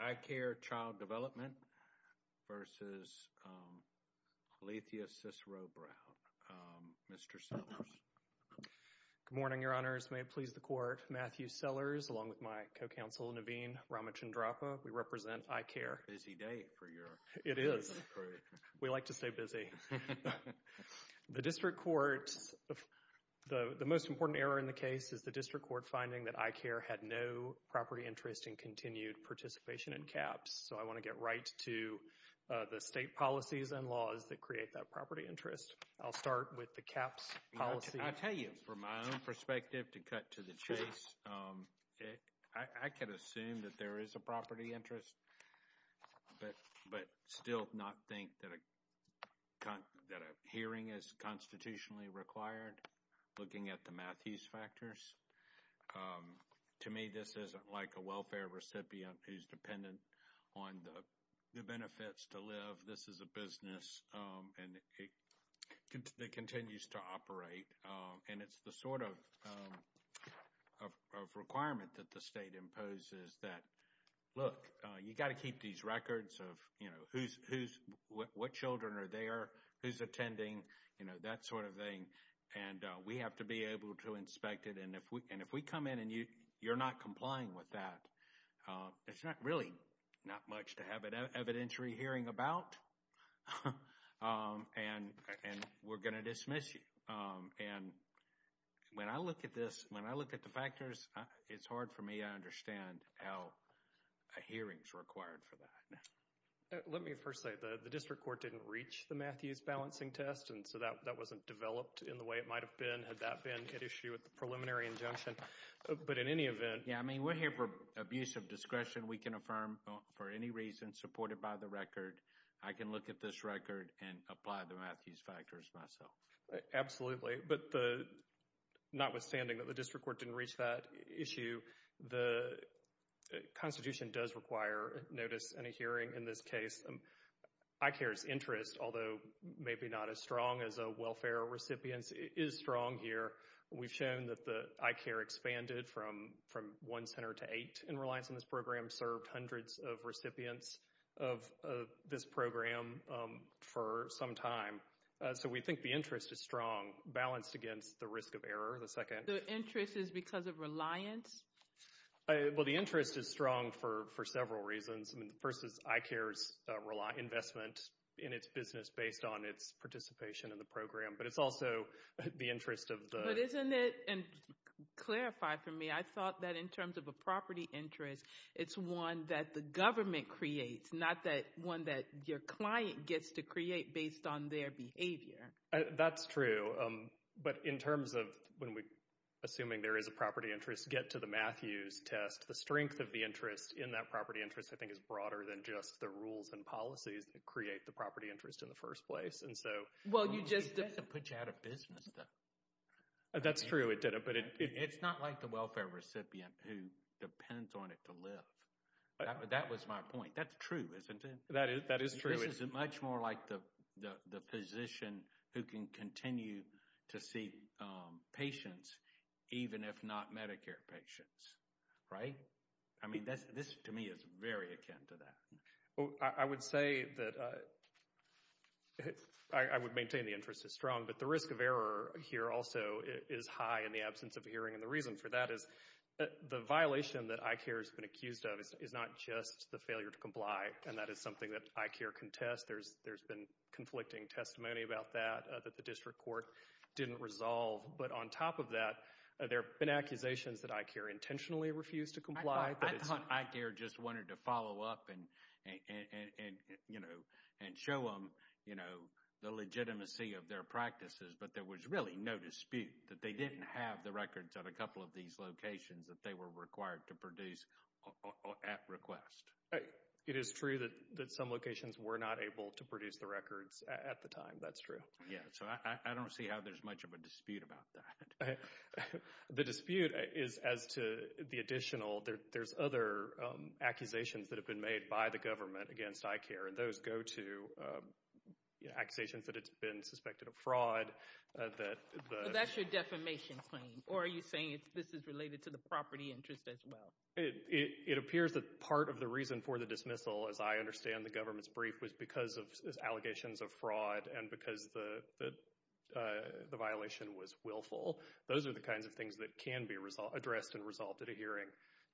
iCare Child Development versus Alethea Cicero-Brown. Mr. Sellers. Good morning, Your Honors. May it please the Court. Matthew Sellers along with my co-counsel Naveen Ramachandrappa. We represent iCare. Busy day for you. It is. We like to stay busy. The District Court, the most important error in the case is the District Court finding that iCare had no property interest in continued participation in CAHPS. So I want to get right to the state policies and laws that create that property interest. I'll start with the CAHPS policy. I tell you, from my own perspective, to cut to the chase, I could assume that there is a property interest, but still not think that a hearing is constitutionally required, looking at the Matthews factors. To me, this isn't like a welfare recipient who's dependent on the benefits to live. This is a business that continues to operate, and it's the sort of requirement that the state imposes that, look, you got to keep these records of, you know, who's, what children are there, who's attending, you know, that sort of thing. And we have to be able to inspect it. And if we come in and you're not complying with that, it's not really not much to have an evidentiary hearing about. And we're going to dismiss you. And when I look at this, when I look at the factors, it's hard for me to understand how a hearing is required for that. Let me first say, the district court didn't reach the Matthews balancing test, and so that wasn't developed in the way it might have been, had that been an issue with the preliminary injunction. But in any event... Yeah, I mean, we're here for abuse of discretion. We can affirm for any reason supported by the record, I can look at this record and apply the Matthews factors myself. Absolutely. But the, notwithstanding that the district court didn't reach that issue, the Constitution does require notice and a hearing in this case. ICARE's interest, although maybe not as strong as a welfare recipient's, is strong here. We've shown that the ICARE expanded from one center to eight in reliance on this program, served hundreds of recipients of this program for some time. So we think the interest is strong, balanced against the risk of error, the second. The interest is because of reliance? Well, the interest is strong for several reasons. I mean, the first is ICARE's investment in its business based on its participation in the program. But it's also the interest of the... But isn't it, and clarify for me, I thought that in terms of a property interest, it's one that the government creates, not that one that your client gets to create based on their behavior. That's true. But in terms of when we, assuming there is a property interest, get to the Matthews test, the strength of the interest in that property interest I think is broader than just the rules and policies that create the property interest in the first place. And so... Well, you just... It doesn't put you out of business, though. That's true, it didn't, but it... It's not like the welfare recipient who depends on it to live. That was my point. That's true, isn't it? That is true. This is much more like the physician who can continue to see patients, even if not Medicare patients, right? I mean, this to me is very akin to that. I would say that I would maintain the interest is strong, but the risk of error here also is high in the absence of hearing. And the reason for that is the violation that ICARE has been accused of is not just the failure to comply, and that is something that ICARE can test. There's been conflicting testimony about that, that the district court didn't resolve. But on top of that, there have been accusations that ICARE intentionally refused to comply. I thought ICARE just wanted to follow up and show them the legitimacy of their practices, but there was really no dispute that they didn't have the records of a couple of these locations that they were required to produce at request. It is true that some locations were not able to produce the records at the time. That's true. Yeah, so I don't see how there's much of a dispute about that. The dispute is as to the additional... There's other accusations that have been made by the government against ICARE, and those go to accusations that it's been suspected of fraud. So that's your defamation claim, or are you saying this is related to the property interest as well? It appears that part of the reason for the dismissal, as I understand the government's brief, was because of allegations of fraud and because the violation was willful. Those are the kinds of things that can be addressed and resolved at a hearing.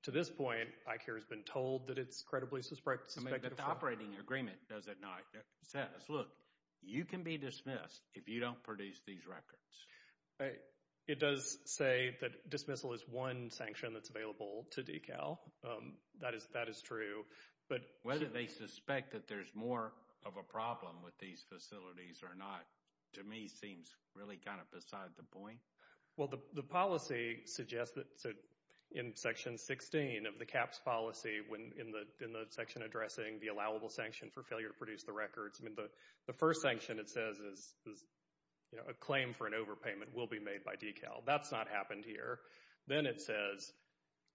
To this point, ICARE has been told that it's credibly suspected of fraud. But the operating agreement does it not. It says, look, you can be dismissed if you don't produce these records. It does say that dismissal is one sanction that's available to DECAL. That is true, but... Whether they suspect that there's more of a problem with these facilities or not, to me, seems really kind of beside the point. Well, the policy suggests in Section 16 of the CAHPS policy, in the section addressing the allowable sanction for failure to produce the records, the first sanction it says is a claim for an overpayment will be made by DECAL. That's not happened here. Then it says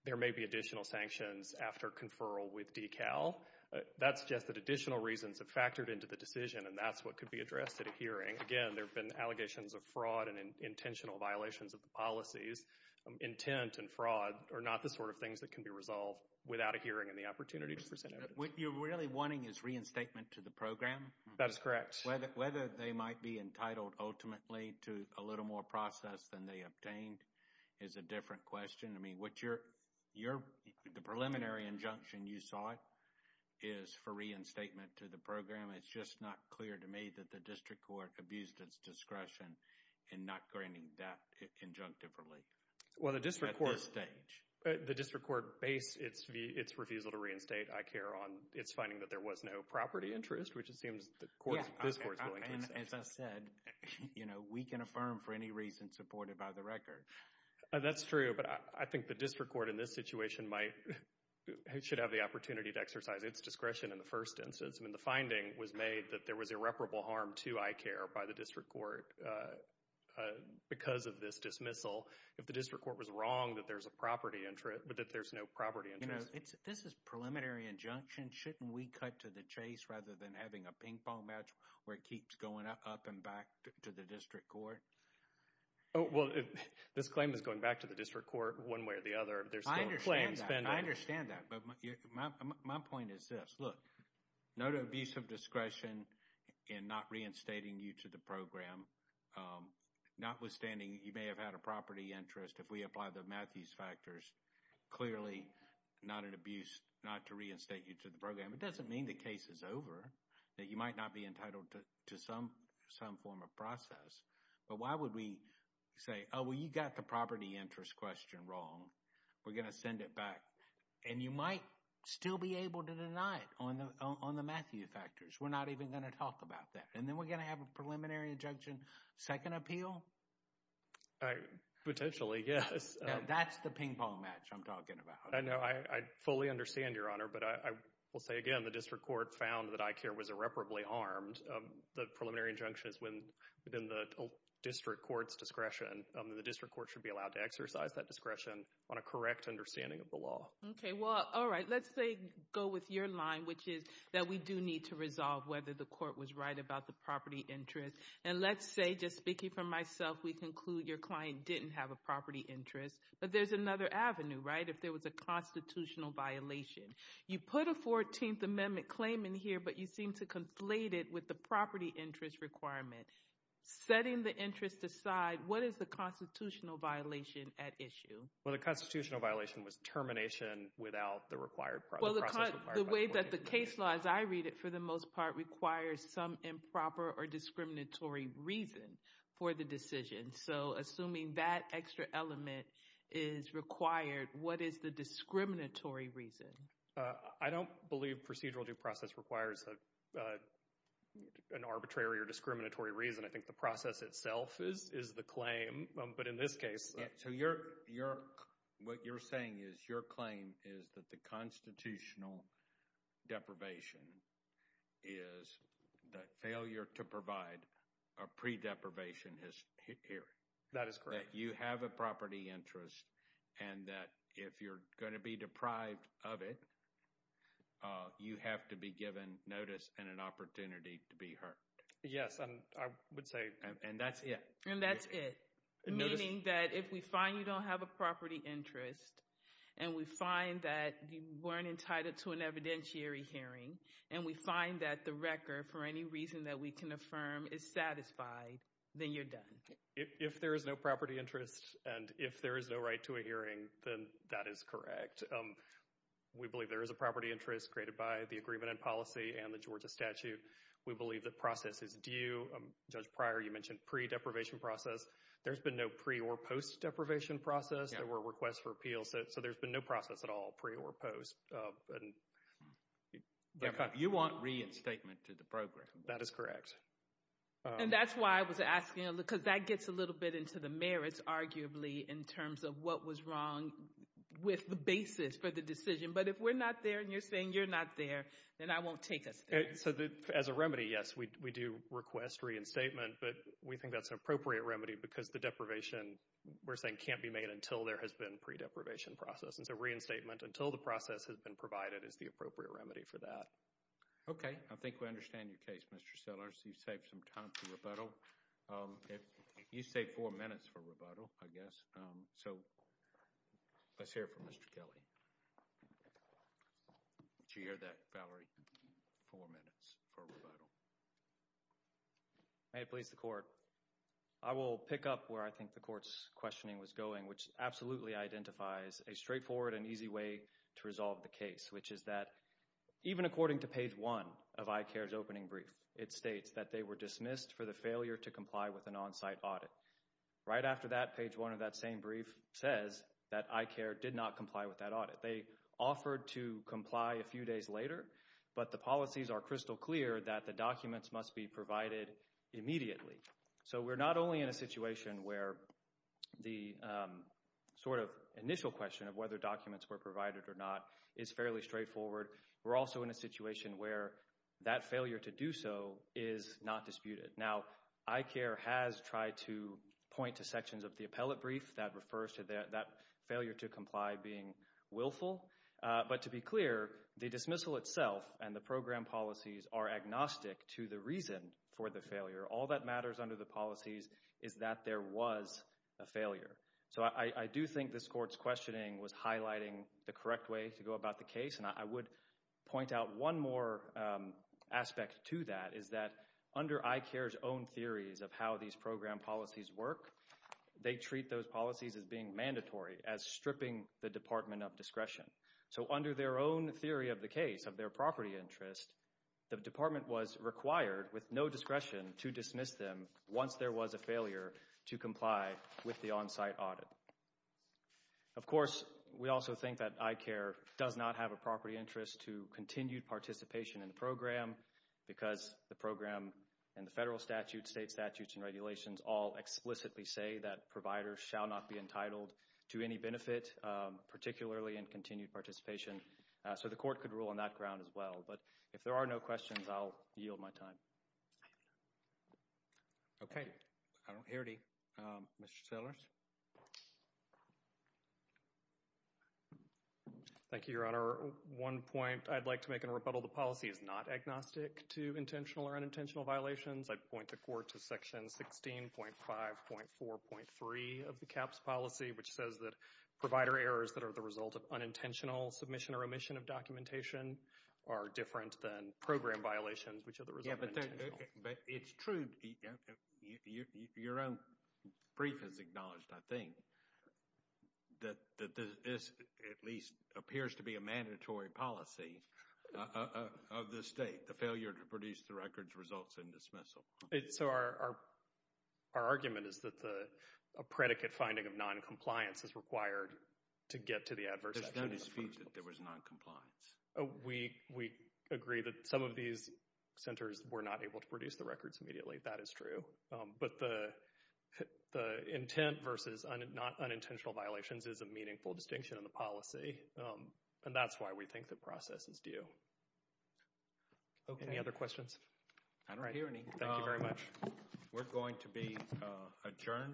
there may be additional sanctions after conferral with DECAL. That suggests that additional reasons have factored into the decision, and that's what could be addressed at a hearing. Again, there have been allegations of fraud and intentional violations of the policies. Intent and fraud are not the sort of things that can be resolved without a hearing and the opportunity to present evidence. What you're really wanting is reinstatement to the program? That is correct. Whether they might be entitled ultimately to a little more process than they obtained is a different question. I mean, the preliminary injunction you sought is for reinstatement to the program. It's just not clear to me that the District Court abused its discretion in not granting that injunctive relief at this stage. Well, the District Court based its refusal to reinstate, I care, on its finding that there was no property interest, which it seems this Court is willing to accept. As I said, you know, we can affirm for any reason supported by the record. That's true, but I think the District Court in this situation should have the opportunity to exercise its discretion in the finding was made that there was irreparable harm to, I care, by the District Court because of this dismissal. If the District Court was wrong that there's a property interest, but that there's no property interest. You know, this is a preliminary injunction. Shouldn't we cut to the chase rather than having a ping-pong match where it keeps going up and back to the District Court? Oh, well, this claim is going back to the District Court one way or the other. I understand that, but my point is this. Look, no to abuse of discretion in not reinstating you to the program. Notwithstanding, you may have had a property interest. If we apply the Matthews factors, clearly not an abuse not to reinstate you to the program. It doesn't mean the case is over, that you might not be entitled to some form of process, but why would we say, well, you got the property interest question wrong. We're going to send it back. And you might still be able to deny it on the Matthew factors. We're not even going to talk about that. And then we're going to have a preliminary injunction second appeal? Potentially, yes. That's the ping-pong match I'm talking about. I know. I fully understand, Your Honor, but I will say again, the District Court found that I care was irreparably harmed. The preliminary injunction is within the District Court's discretion. The District Court should be allowed to exercise that discretion on a correct understanding of the law. Okay. Well, all right. Let's say, go with your line, which is that we do need to resolve whether the court was right about the property interest. And let's say, just speaking for myself, we conclude your client didn't have a property interest, but there's another avenue, right? If there was a constitutional violation. You put a 14th Amendment claim in here, but you seem to conflate it with the property interest requirement. Setting the interest aside, what is the constitutional violation at issue? Well, the constitutional violation was termination without the required process. Well, the way that the case law, as I read it, for the most part requires some improper or discriminatory reason for the decision. So, assuming that extra element is required, what is the discriminatory reason? I don't believe procedural due process requires an arbitrary or discriminatory reason. I think the process itself is the claim, but in this case... So, what you're saying is your claim is that the constitutional deprivation is the failure to provide a pre-deprivation history. That is correct. That you have a property interest and that if you're going to be deprived of it, you have to be given notice and an opportunity to be heard. Yes, I would say... And that's it. And that's it. Meaning that if we find you don't have a property interest and we find that you weren't entitled to an evidentiary hearing and we find that the record, for any reason that we can affirm, is satisfied, then you're done. If there is no property interest and if there is no right to a hearing, then that is correct. We believe there is a property interest created by the agreement and policy and the Georgia statute. We believe that process is due. Judge Pryor, you mentioned pre-deprivation process. There's been no pre- or post-deprivation process. There were requests for appeals. So, there's been no process at all, pre or post. You want reinstatement to the program. That is correct. And that's why I was asking, because that gets a little bit into the merits, arguably, in terms of what was wrong with the basis for the decision. But if we're not there and you're saying you're not there, then I won't take us there. So, as a remedy, yes, we do request reinstatement. But we think that's an appropriate remedy because the deprivation, we're saying, can't be made until there has been pre-deprivation process. And so, reinstatement until the process has been provided is the appropriate remedy for that. Okay. I think we understand your case, Mr. Sellers. You saved some time for rebuttal. You saved four minutes for rebuttal, I guess. So, let's hear from Mr. Kelly. Did you hear that, Valerie? Four minutes for rebuttal. May it please the Court. I will pick up where I think the Court's questioning was going, which absolutely identifies a straightforward and easy way to resolve the case, which is that even according to page one of ICARE's opening brief, it states that they were dismissed for the failure to comply with an on-site audit. Right after that, page one of that same brief says that ICARE did not comply with that audit. They offered to comply a few days later, but the policies are crystal clear that the documents must be provided immediately. So, we're not only in a situation where the sort of initial question of whether documents were provided or not is fairly straightforward, we're also in a situation where that failure to do so is not disputed. Now, ICARE has tried to point to sections of the appellate brief that refers to that failure to comply being willful, but to be clear, the dismissal itself and the program policies are agnostic to the reason for the failure. All that matters under the policies is that there was a failure. So, I do think this Court's questioning was highlighting the correct way to go about the case, and I would point out one more aspect to that, is that under ICARE's own theories of how these program policies work, they treat those policies as being mandatory, as stripping the Department of Discretion. So, under their own theory of the case, of their property interest, the Department was required, with no discretion, to dismiss them once there was a failure to comply with the on-site audit. Of course, we also think that ICARE does not have a property interest to continued participation in the program because the program and the federal statute, state statutes, and regulations all explicitly say that providers shall not be entitled to any benefit, particularly in continued participation. So, the Court could rule on that ground as well, but if there are no questions, I'll yield my time. Okay. I don't hear any. Mr. Sellers? Thank you, Your Honor. One point I'd like to make in rebuttal, the policy is not agnostic to intentional or unintentional violations. I'd point the Court to Section 16.5.4.3 of the CAHPS policy, which says that provider errors that are the result of unintentional submission or omission of documentation are different than program violations, which are the result of unintentional. Yeah, but it's true. Your own brief has acknowledged, I think, that this at least appears to be a mandatory policy of the state, the failure to produce the records results in dismissal. So, our argument is that a predicate finding of noncompliance is required to get to the adverse effect. There's no dispute that there was noncompliance. We agree that some of these centers were not able to produce the records immediately. That is true. But the intent versus not unintentional violations is a meaningful distinction in the policy, and that's why we think the process is due. Okay. Any other questions? I don't hear any. Thank you very much. We're going to be adjourned for the week.